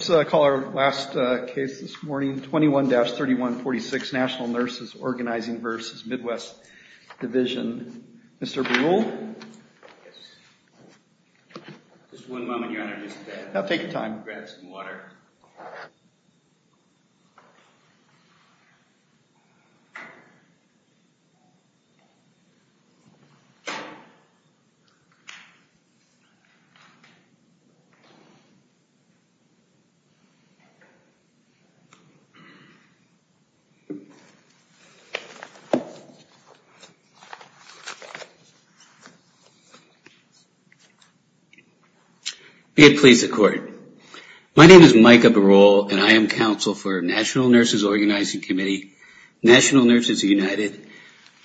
21-3146 National Nurses Organizing v. Midwest Division National Nurses United,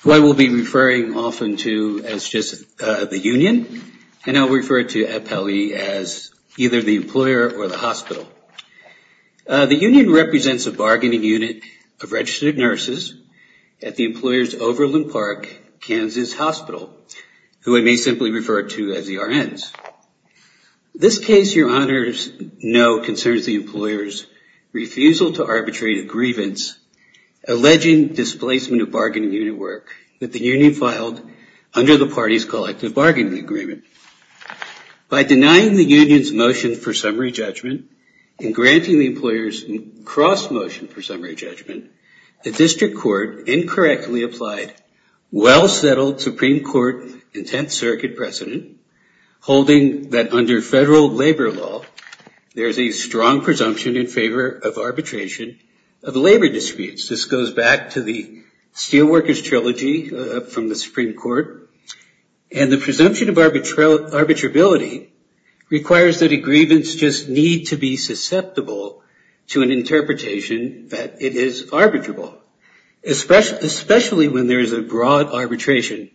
who I will be referring often to as just the union, and I'll refer to EPELI as either the employer or the hospital. The union represents a bargaining unit of registered nurses at the employer's Overland Park, Kansas hospital, who I may simply refer to as the RNs. This case, your honors know, concerns the employer's refusal to arbitrate a grievance alleging displacement of bargaining unit work that the union filed under the party's collective bargaining agreement. By denying the union's motion for summary judgment and granting the employer's cross-motion for summary judgment, the district court incorrectly applied well-settled Supreme Court and Tenth Circuit precedent, holding that under federal labor law, there is a strong presumption in favor of arbitration of labor disputes. This goes back to the Steelworkers Trilogy from the Supreme Court, and the presumption of arbitrability requires that a grievance just need to be susceptible to an interpretation that it is arbitrable, especially when there is a broad arbitration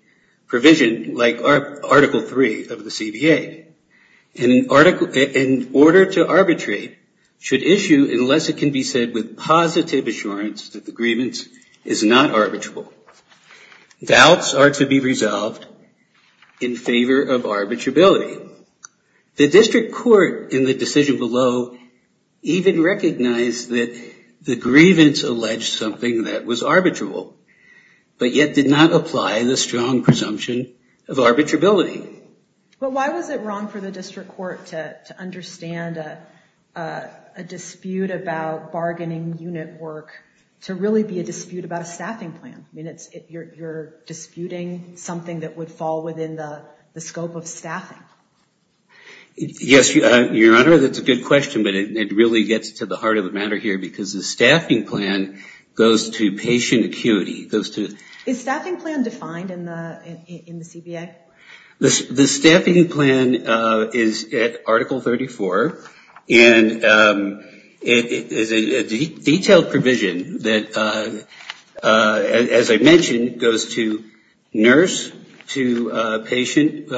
provision like Article III of the CBA. In order to arbitrate should issue, unless it can be said with positive assurance that the grievance is not arbitrable. Doubts are to be resolved in favor of arbitrability. The district court in the decision below even recognized that the grievance alleged something that was arbitrable, but yet did not apply the strong presumption of arbitrability. But why was it wrong for the district court to understand a dispute about bargaining unit work to really be a dispute about a staffing plan? I mean, you're disputing something that would fall within the scope of staffing. Yes, Your Honor, that's a good question, but it really gets to the heart of the matter here because the staffing plan goes to patient acuity. Is staffing plan defined in the CBA? The staffing plan is at Article 34, and it is a detailed plan, but it is not defined in the CBA. It is a provision that, as I mentioned, goes to nurse to patient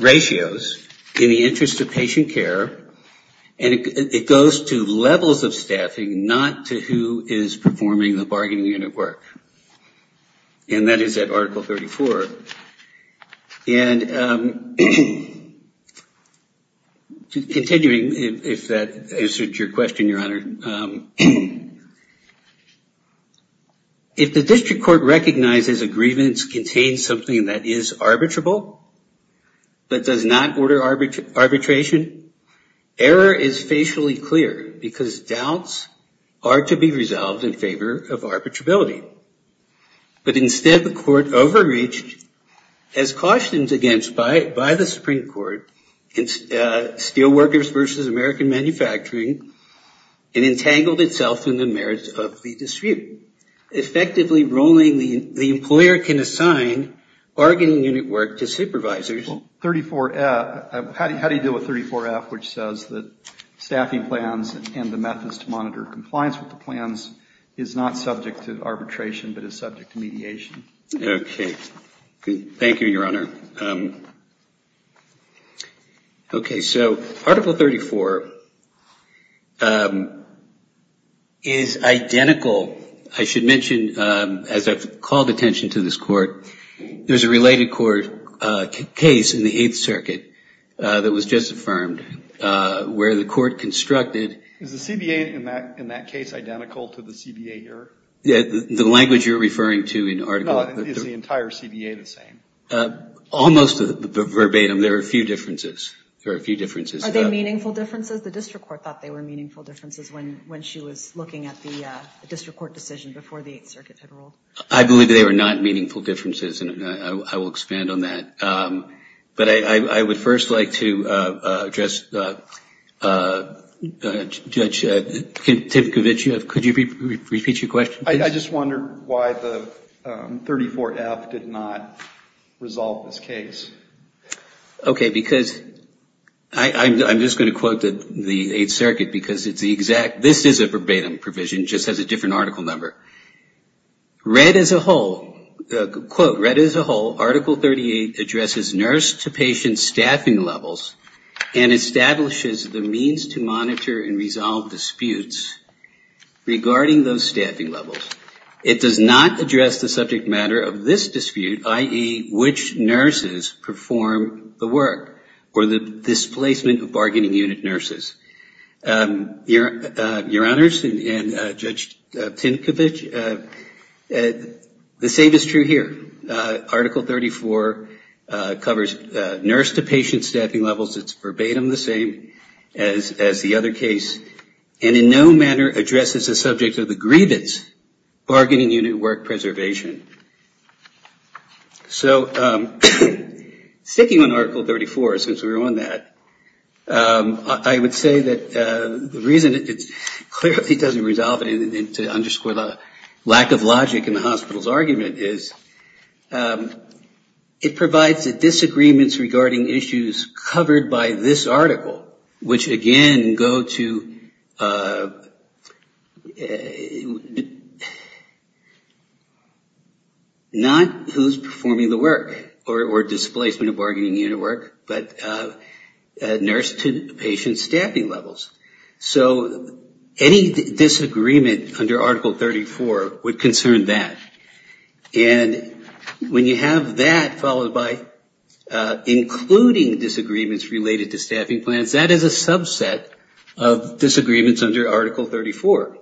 ratios in the interest of patient care, and it goes to levels of staffing, not to who is performing the bargaining unit work, and that is at Article 34. And continuing, if that answers your question, Your Honor, if the district court recognizes a grievance contains something that is arbitrable, but does not order arbitration, error is facially clear because doubts are to be resolved in favor of arbitrability, but instead the court overreached as cautioned against by the Supreme Court in Steelworkers v. American Manufacturing and entangled itself in the merits of the dispute. Effectively ruling the employer can assign bargaining unit work to supervisors. How do you deal with 34F, which says that staffing plans and the methods to monitor compliance with the plans is not subject to arbitration but is subject to mediation? Okay. Thank you, Your Honor. Okay. So Article 34 is identical. I should mention, as I have called attention to this court, there is a related court case in the Eighth Circuit that was just affirmed where the court constructed Is the CBA in that case identical to the CBA here? The language you're referring to in Article No. Is the entire CBA the same? Almost verbatim. There are a few differences. There are a few differences. Are they meaningful differences? The district court thought they were meaningful differences when she was looking at the district court decision before the Eighth Circuit had ruled. I believe they were not meaningful differences, and I will expand on that. But I would first like to address Judge Timkovich. Could you repeat your question? I just wondered why the 34F did not resolve this case. Okay. Because I'm just going to quote the Eighth Circuit because it's the exact, this is a verbatim provision. It just has a different article number. Read as a whole, quote, read as a whole, Article 38 addresses nurse to patient staffing levels and establishes the means to monitor and resolve disputes regarding those staffing levels. It does not address the subject matter of this dispute, i.e., which nurses perform the work or the displacement of bargaining unit nurses. Your Honors, and Judge Timkovich, the same is true here. Article 34 covers nurse to patient staffing levels. It's verbatim the same as the other case, and in no manner addresses the subject of the grievance, bargaining unit work preservation. So sticking on Article 34, since we're on that, I would say that the reason it clearly doesn't resolve it to underscore the lack of logic in the hospital's argument is it provides the disagreements regarding issues covered by this article, which again go to not who's performing the work or displacement of bargaining unit work, but nurse to patient staffing levels. So any disagreement under Article 34 would concern that. And when you have that followed by including disagreements related to staffing plans, that is a subset of disagreements under Article 34.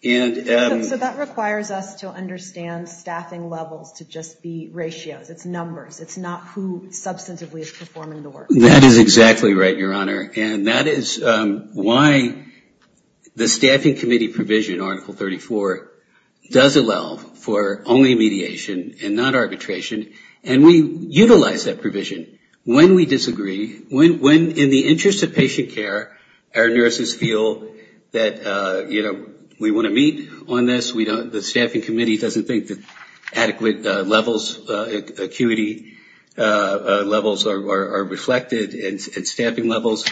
So that requires us to understand staffing levels to just be ratios. It's numbers. It's not who substantively is performing the work. That is exactly right, Your Honor. And that is why the staffing committee provision, Article 34, does allow for only mediation and not arbitration. And we utilize that provision. When we disagree, when in the interest of patient care, our nurses feel that we want to meet on this, the staffing committee doesn't think that adequate levels, acuity levels are reflected at staffing levels,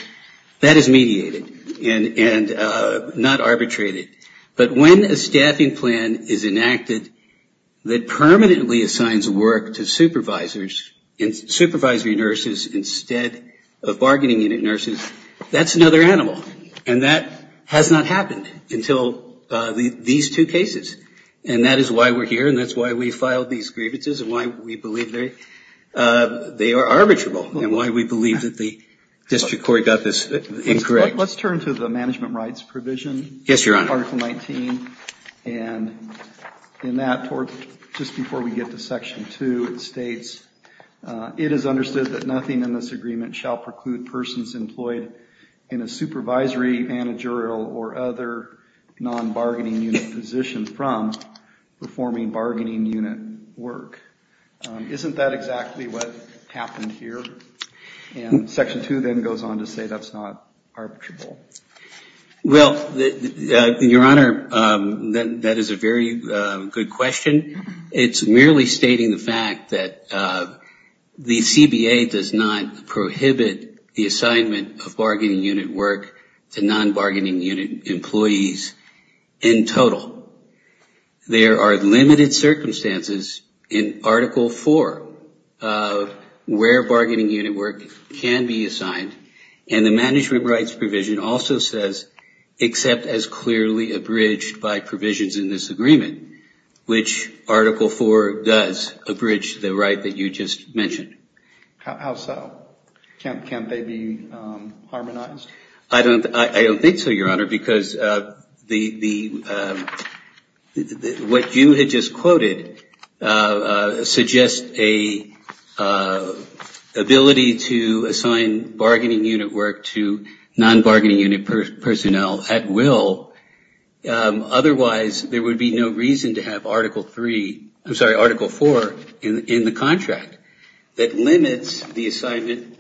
that is mediated and not arbitrated. But when a staffing plan is enacted that permanently assigns work to supervisors and supervisory nurses instead of bargaining unit nurses, that's another animal. And that has not happened until these two cases. And that is why we're here and that's why we filed these grievances and why we believe they are arbitrable and why we believe that the district court got this incorrect. Let's turn to the management rights provision, Article 19. And in that, just before we get to Section 2, it states, it is understood that nothing in this agreement shall preclude persons employed in a supervisory, managerial, or other non-bargaining unit position from performing bargaining unit work. Isn't that exactly what happened here? And Section 2 then goes on to say that's not arbitrable. Well, Your Honor, that is a very good question. It's merely stating the fact that the CBA does not prohibit the assignment of bargaining unit work to non-bargaining unit employees in total. There are limited circumstances in Article 4 of where bargaining unit work can be assigned. And the management rights provision also says, except as clearly abridged by provisions in this agreement, which Article 4 does abridge the right that you just mentioned. How so? Can't they be harmonized? I don't think so, Your Honor, because what you had just quoted suggests an ability to assign bargaining unit work to non-bargaining unit personnel at will. Otherwise, there would be no reason to have Article 3, I'm sorry, Article 4 in the contract that limits the right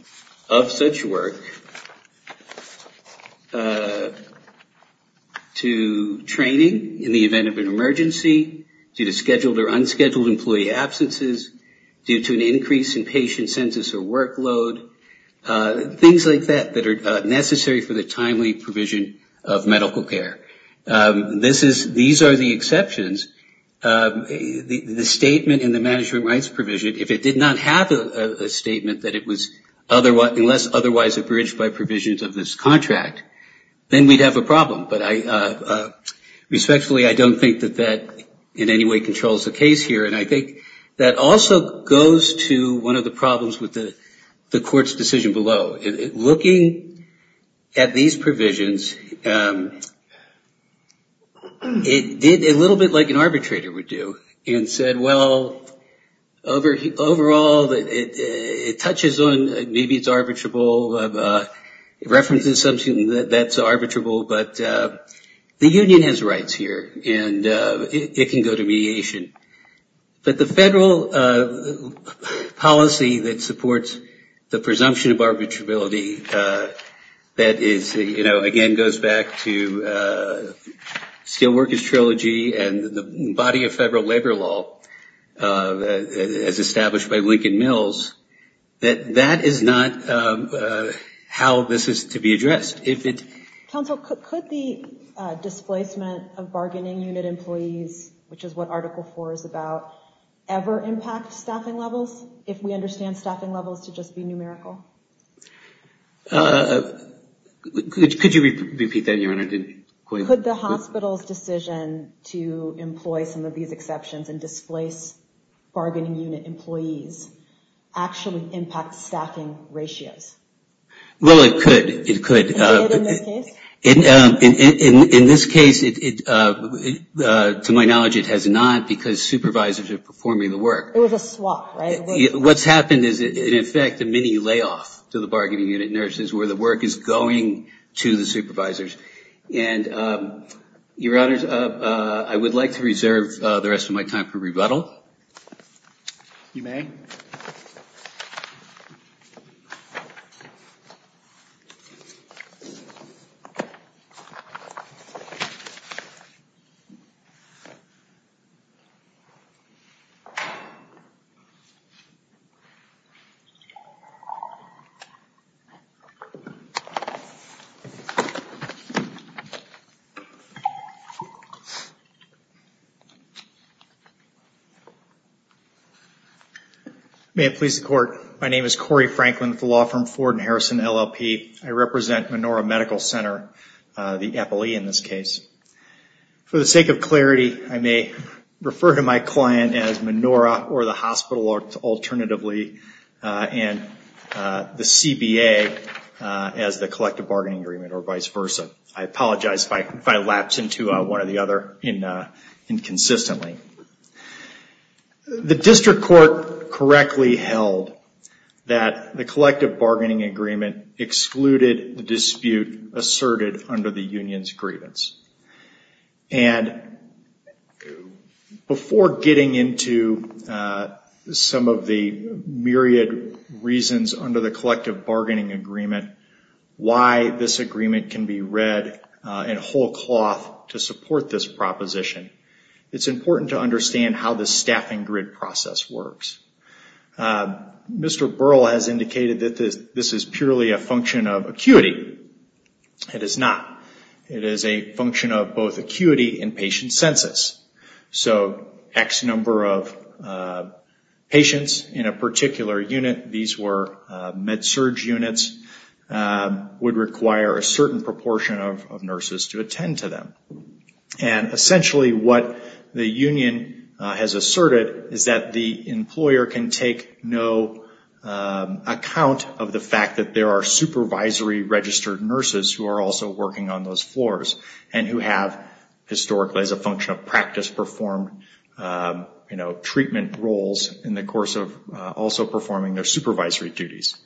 to training in the event of an emergency due to scheduled or unscheduled employee absences, due to an increase in patient census or workload, things like that that are necessary for the timely provision of medical care. These are the exceptions. The statement in the management rights provision, if it did not have a statement that it was unless otherwise abridged by provisions of this contract, then we'd have a problem. But respectfully, I don't think that that in any way controls the case here. And I think that also goes to one of the problems with the Court's decision below. Looking at these provisions, it did a little bit like an arbitrator would do and said, well, overall, it touches on, maybe it's arbitrable. It represents something that's arbitrable, but the union has rights here and it can go to mediation. But the federal policy that supports the presumption of arbitrability that is, you know, again goes back to Steelworkers Trilogy and the body of federal labor law as established by the federal government. Could the displacement of bargaining unit employees, which is what Article 4 is about, ever impact staffing levels, if we understand staffing levels to just be numerical? Could you repeat that, Your Honor? Could the hospital's decision to employ some of these exceptions and displace bargaining unit employees actually impact staffing ratios? Well, it could. It could. It did in this case? In this case, to my knowledge, it has not because supervisors are performing the work. It was a swap, right? What's happened is, in effect, a mini layoff to the bargaining unit nurses where the work is going to the supervisors. And, Your Honors, I would like to reserve the rest of my time for rebuttal. You may. Thank you. May it please the Court, my name is Corey Franklin with the law firm Ford & Harrison, LLP. I represent Menorah Medical Center, the FLE in this case. For the sake of clarity, I may refer to my client as Menorah or the hospital alternatively, and the CBA as the collective bargaining agreement or vice versa. I apologize if I lapsed into one or the other inconsistently. The district court correctly held that the collective bargaining agreement excluded the dispute asserted under the union's grievance. And before getting into some of the myriad reasons under the collective bargaining agreement why this agreement can be read in whole cloth to support this proposition, it's important to understand how the staffing grid process works. Mr. Burl has indicated that this is purely a function of acuity. It is not. It is a function of both acuity and patient census. So X number of patients in a particular unit, these were med-surg units, would require a certain proportion of nurses to attend to them. And essentially what the union has asserted is that the employer can take no account of the fact that there are supervisory registered nurses who are also working on those floors and who have historically as a function of practice performed treatment roles in the course of also performing their supervisory duties.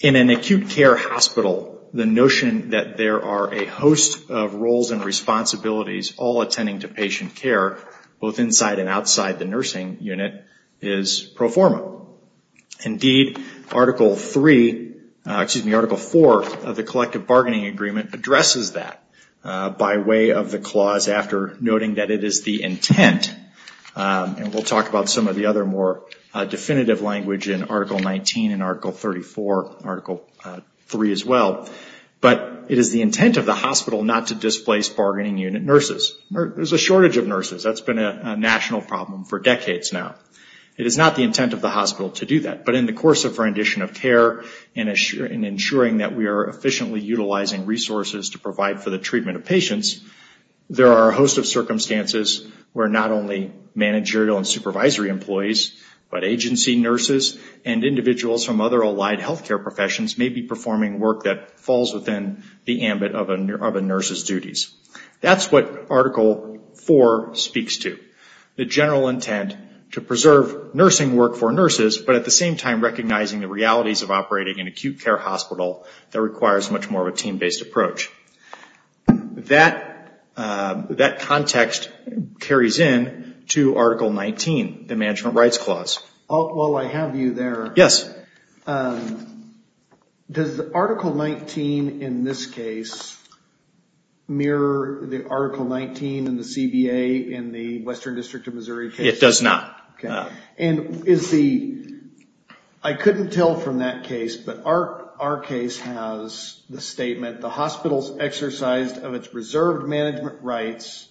In an acute care hospital, the notion that there are a host of roles and responsibilities all attending to patient care, both inside and outside the nursing unit, is pro forma. Indeed, Article 4 of the collective bargaining agreement addresses that by way of the clause after noting that it is the intent, and we'll talk about some of the other more definitive language in Article 19 and Article 34, Article 3 as well, but it is the intent of the hospital not to displace bargaining unit nurses. There's a shortage of nurses. That's been a national problem for decades now. It is not the intent of the hospital to do that, but in the course of rendition of care and ensuring that we are efficiently utilizing resources to provide for the treatment of patients, there are a host of circumstances where not only managerial and supervisory employees, but agency nurses and individuals from other allied healthcare professions may be performing work that falls within the ambit of a nurse's duties. That's what Article 4 speaks to, the general intent to preserve nursing work for nurses, but at the same time recognizing the realities of operating an acute care hospital that requires much more of a team-based approach. That context carries in to Article 19, the Management Rights Clause. Well, I have you there. Yes. Does Article 19 in this case mirror the Article 19 in the CBA in the Western District of Missouri case? It does not. I couldn't tell from that case, but our case has the statement, Individuals exercised of its reserved management rights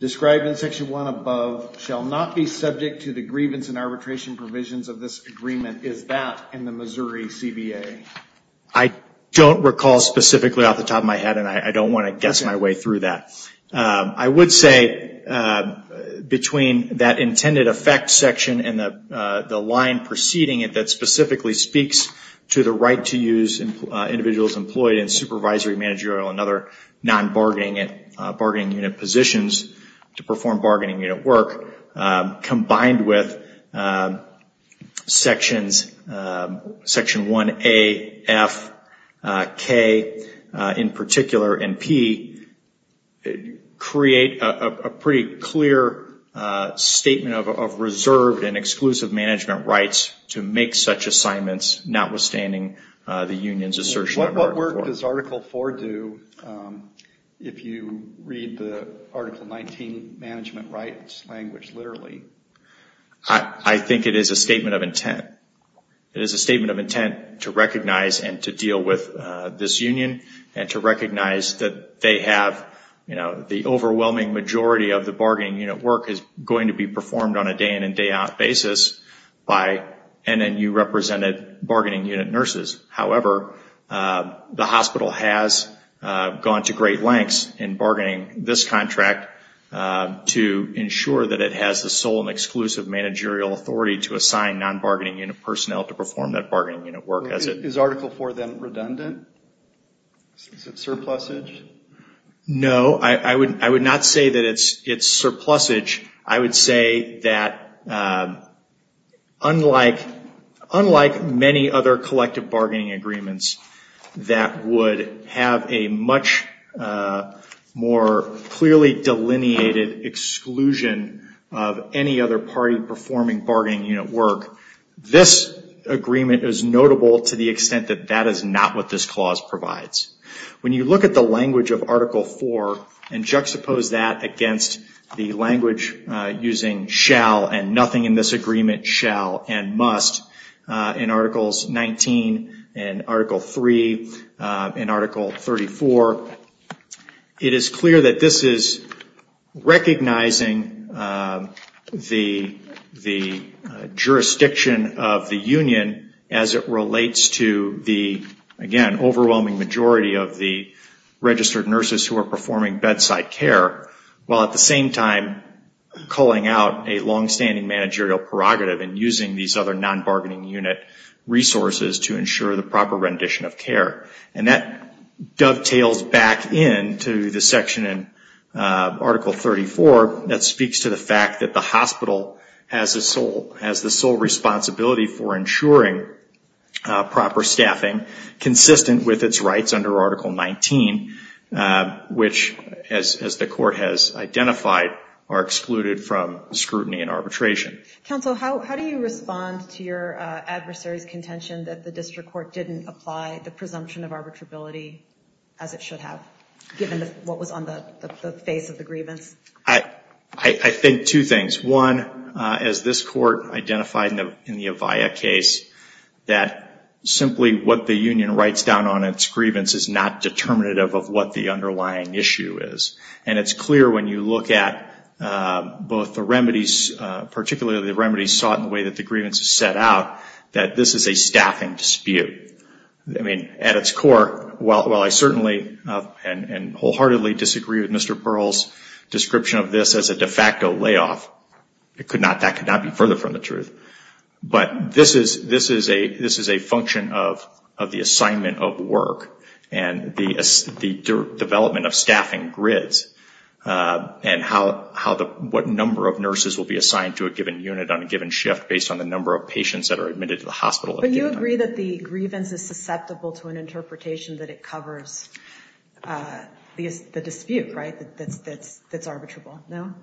described in Section 1 above shall not be subject to the grievance and arbitration provisions of this agreement. Is that in the Missouri CBA? I don't recall specifically off the top of my head, and I don't want to guess my way through that. I would say between that intended effect section and the line preceding it that non-bargaining unit positions to perform bargaining unit work, combined with Sections 1A, F, K, in particular, and P, create a pretty clear statement of reserved and exclusive management rights to make such assignments notwithstanding the union's assertion of What work does Article 4 do, if you read the Article 19 Management Rights language literally? I think it is a statement of intent. It is a statement of intent to recognize and to deal with this union and to recognize that they have the overwhelming majority of the bargaining unit work is going to be performed on a day in and day out basis by NNU represented bargaining unit nurses. However, the hospital has gone to great lengths in bargaining this contract to ensure that it has the sole and exclusive managerial authority to assign non-bargaining unit personnel to perform that bargaining unit work. Is Article 4, then, redundant? Is it surplusage? No. I would not say that it is surplusage. I would say that unlike many other articles collective bargaining agreements that would have a much more clearly delineated exclusion of any other party performing bargaining unit work, this agreement is notable to the extent that that is not what this clause provides. When you look at the language of Article 4 and juxtapose that against the language using shall and nothing in this agreement shall and must in Articles 19 and Article 3 and Article 34, it is clear that this is recognizing the jurisdiction of the union as it relates to the, again, overwhelming majority of the registered nurses who are performing bedside care while at the same time calling out a longstanding managerial prerogative in using these other non-bargaining unit resources to ensure the proper rendition of care. That dovetails back into the section in Article 34 that speaks to the fact that the hospital has the sole responsibility for ensuring proper staffing consistent with its rights under Article 19, which as the court has identified are excluded from scrutiny and arbitration. Counsel, how do you respond to your adversary's contention that the district court didn't apply the presumption of arbitrability as it should have given what was on the face of the grievance? I think two things. One, as this court identified in the Avaya case, that simply what the union writes down on its grievance is not determinative of what the underlying issue is. It's clear when you look at both the remedies, particularly the remedies sought in the way that the grievance is set out, that this is a staffing dispute. At its core, while I certainly and wholeheartedly disagree with Mr. Pearl's description of this as a de facto layoff, that could not be further from the truth. But this is a function of the assignment of work and the development of staffing grids and what number of nurses will be assigned to a given unit on a given shift based on the number of patients that are admitted to the hospital at a given time. But you agree that the grievance is susceptible to an interpretation that it covers the dispute, right, that's arbitrable, no?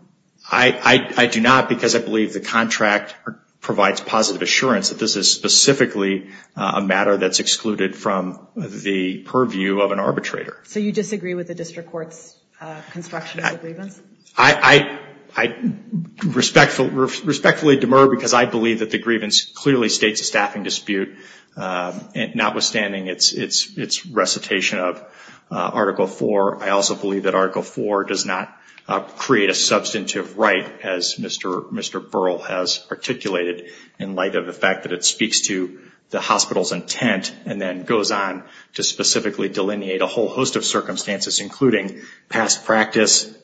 I do not, because I believe the contract provides positive assurance that this is specifically a matter that's excluded from the purview of an arbitrator. So you disagree with the district court's construction of the grievance? I respectfully demur because I believe that the grievance clearly states a staffing dispute, notwithstanding its recitation of Article IV. I also believe that Article IV does not create a substantive right, as Mr. Pearl has articulated, in light of the fact that it speaks to the hospital's intent and then goes on to specifically delineate a whole host of circumstances, including past practice,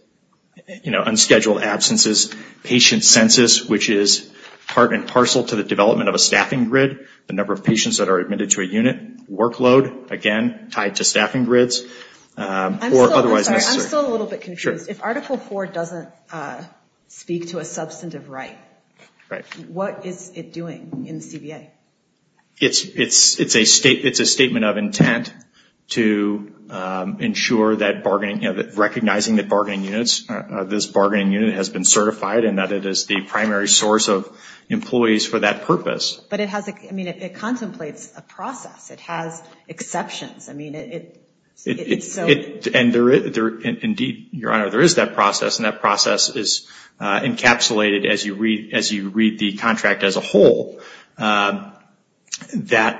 you know, unscheduled absences, patient census, which is part and parcel to the development of a staffing grid, the number of patients that are admitted to a unit, workload, again, tied to staffing grids, or otherwise necessary. I'm still a little bit confused. If Article IV doesn't speak to a substantive right, what is it doing in the CBA? It's a statement of intent to ensure that bargaining, recognizing that bargaining units, this bargaining unit has been certified and that it is the primary source of employees for that purpose. But it has, I mean, it contemplates a process. It has exceptions. I mean, it's so... Indeed, Your Honor, there is that process, and that process is encapsulated as you read the contract as a whole, that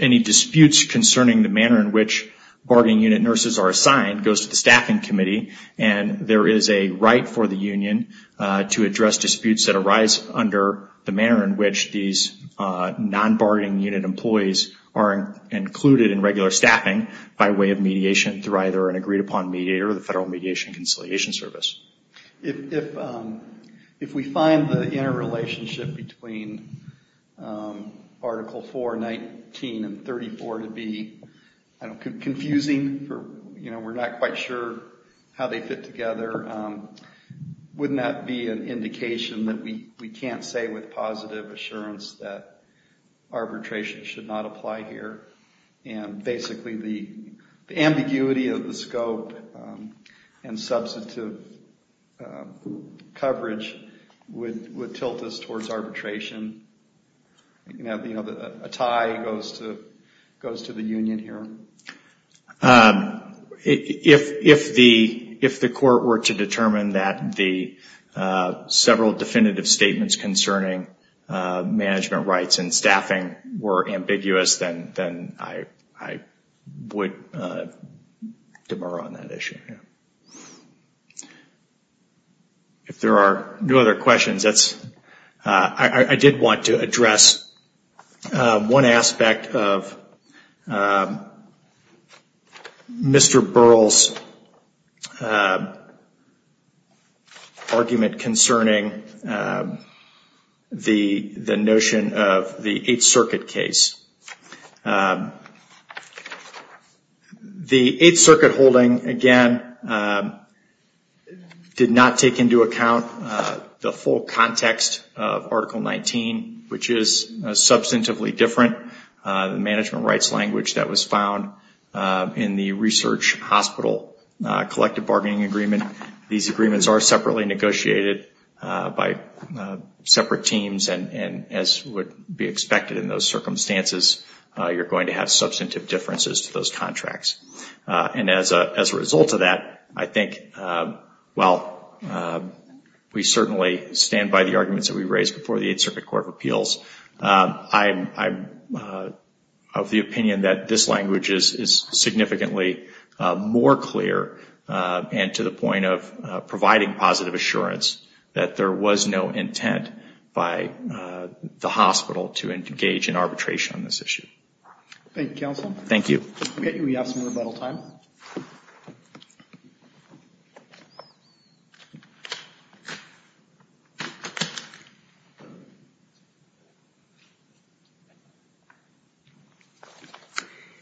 any disputes concerning the manner in which bargaining unit nurses are assigned goes to the staffing committee, and there is a right for the union to address disputes that arise under the manner in which these non-bargaining unit employees are included in regular staffing by way of mediation through either an agreed-upon mediator or the Federal Mediation and Conciliation Service. If we find the interrelationship between Article IV, 19, and 34 to be confusing, you know, we're not quite sure how they fit together, wouldn't that be an indication that we can't say with positive assurance that arbitration should not apply here, and basically the ambiguity of the scope and substantive coverage would tilt us towards arbitration? You know, a tie goes to the union here. If the Court were to determine that the several definitive statements concerning manner in which management rights and staffing were ambiguous, then I would demur on that issue. If there are no other questions, I did want to address one aspect of Mr. Burrell's argument concerning the notion of the Eighth Circuit case. The Eighth Circuit holding, again, did not take into account the full context of Article 19, which is substantively different. The management rights language that was found in the Research Hospital Collective Bargaining Agreement, these agreements are separately negotiated by separate teams, and as would be expected in those circumstances, you're going to have substantive differences to those contracts. And as a result of that, I think, well, we certainly stand by the arguments that we raised before the Eighth Circuit Court of Appeals. I'm of the opinion that this language is significantly more clear and to the point of providing positive assurance that there was no intent by the hospital to engage in arbitration on this issue. Thank you, Counsel. Thank you.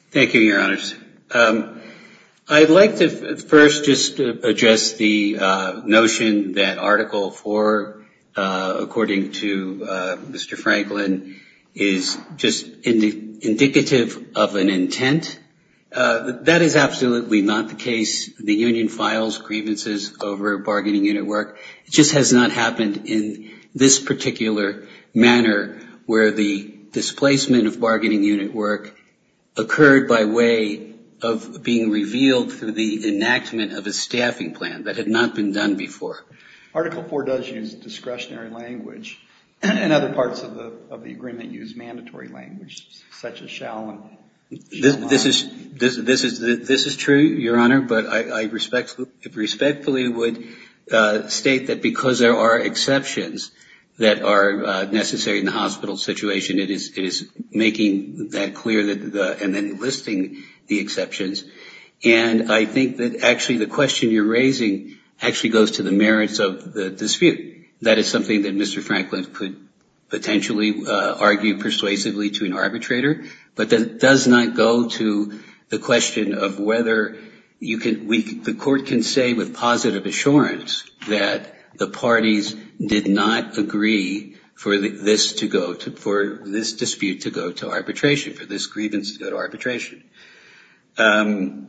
Thank you, Your Honors. I'd like to first just address the notion that Article 4, according to Mr. Franklin, is just indicative of an intent. That is absolutely not the case. The union files grievances over bargaining unit work. It just has not happened in this particular manner where the displacement of bargaining unit work occurred by way of being revealed through the enactment of a staffing plan that had not been done before. Article 4 does use discretionary language, and other parts of the agreement use mandatory language, such as shall and shall not. This is true, Your Honor, but I respectfully would state that because there are exceptions that are necessary in the hospital situation, it is making that clear and then listing the exceptions. And I think that actually the question you're raising actually goes to the merits of the dispute. That is something that Mr. Franklin could potentially argue persuasively to an extent, but it does come to the question of whether the court can say with positive assurance that the parties did not agree for this dispute to go to arbitration, for this grievance to go to arbitration. And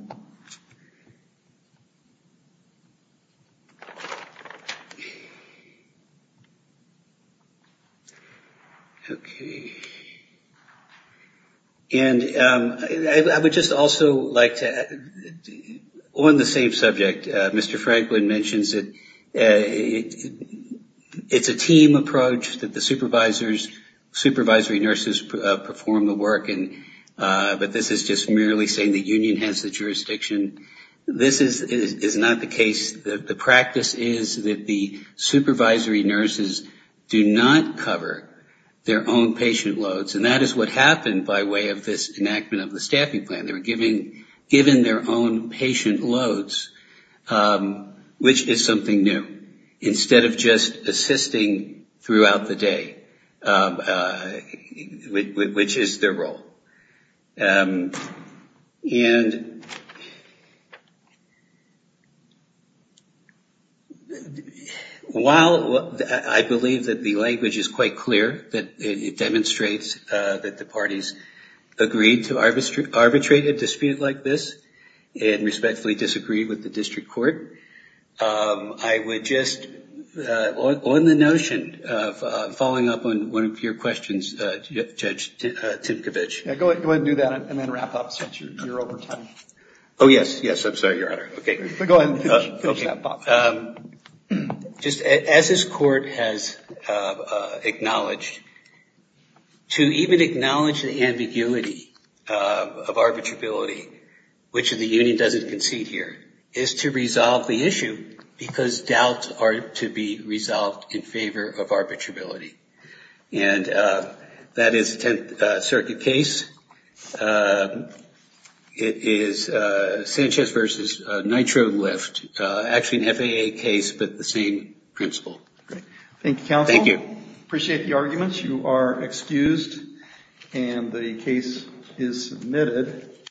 I would just also like to, on the same subject, Mr. Franklin mentions that it's a team approach, that the supervisors, supervisory nurses, perform the work, but this is just merely saying the union has the jurisdiction. This is not the case. The practice is that the supervisory nurses do not cover their own patient loads, and that is what happened by way of this enactment of the staffing plan. They were given their own patient loads, which is something new, instead of just assisting throughout the day, which is their role. And while I believe that the language is quite clear, that it demonstrates that the parties agreed to arbitrate a dispute like this and respectfully disagreed with the district court, I would just, on the notion of following up on one of your questions, Judge Timkovich. Just as this court has acknowledged, to even acknowledge the ambiguity of arbitrability, which in the case of the dispute, the union doesn't concede here, is to resolve the issue, because doubts are to be resolved in favor of arbitrability. And that is the Tenth Circuit case. It is Sanchez v. Nitro Lift, actually an FAA case, but the same principle. Thank you, counsel. Appreciate the arguments. You are excused, and the case is submitted.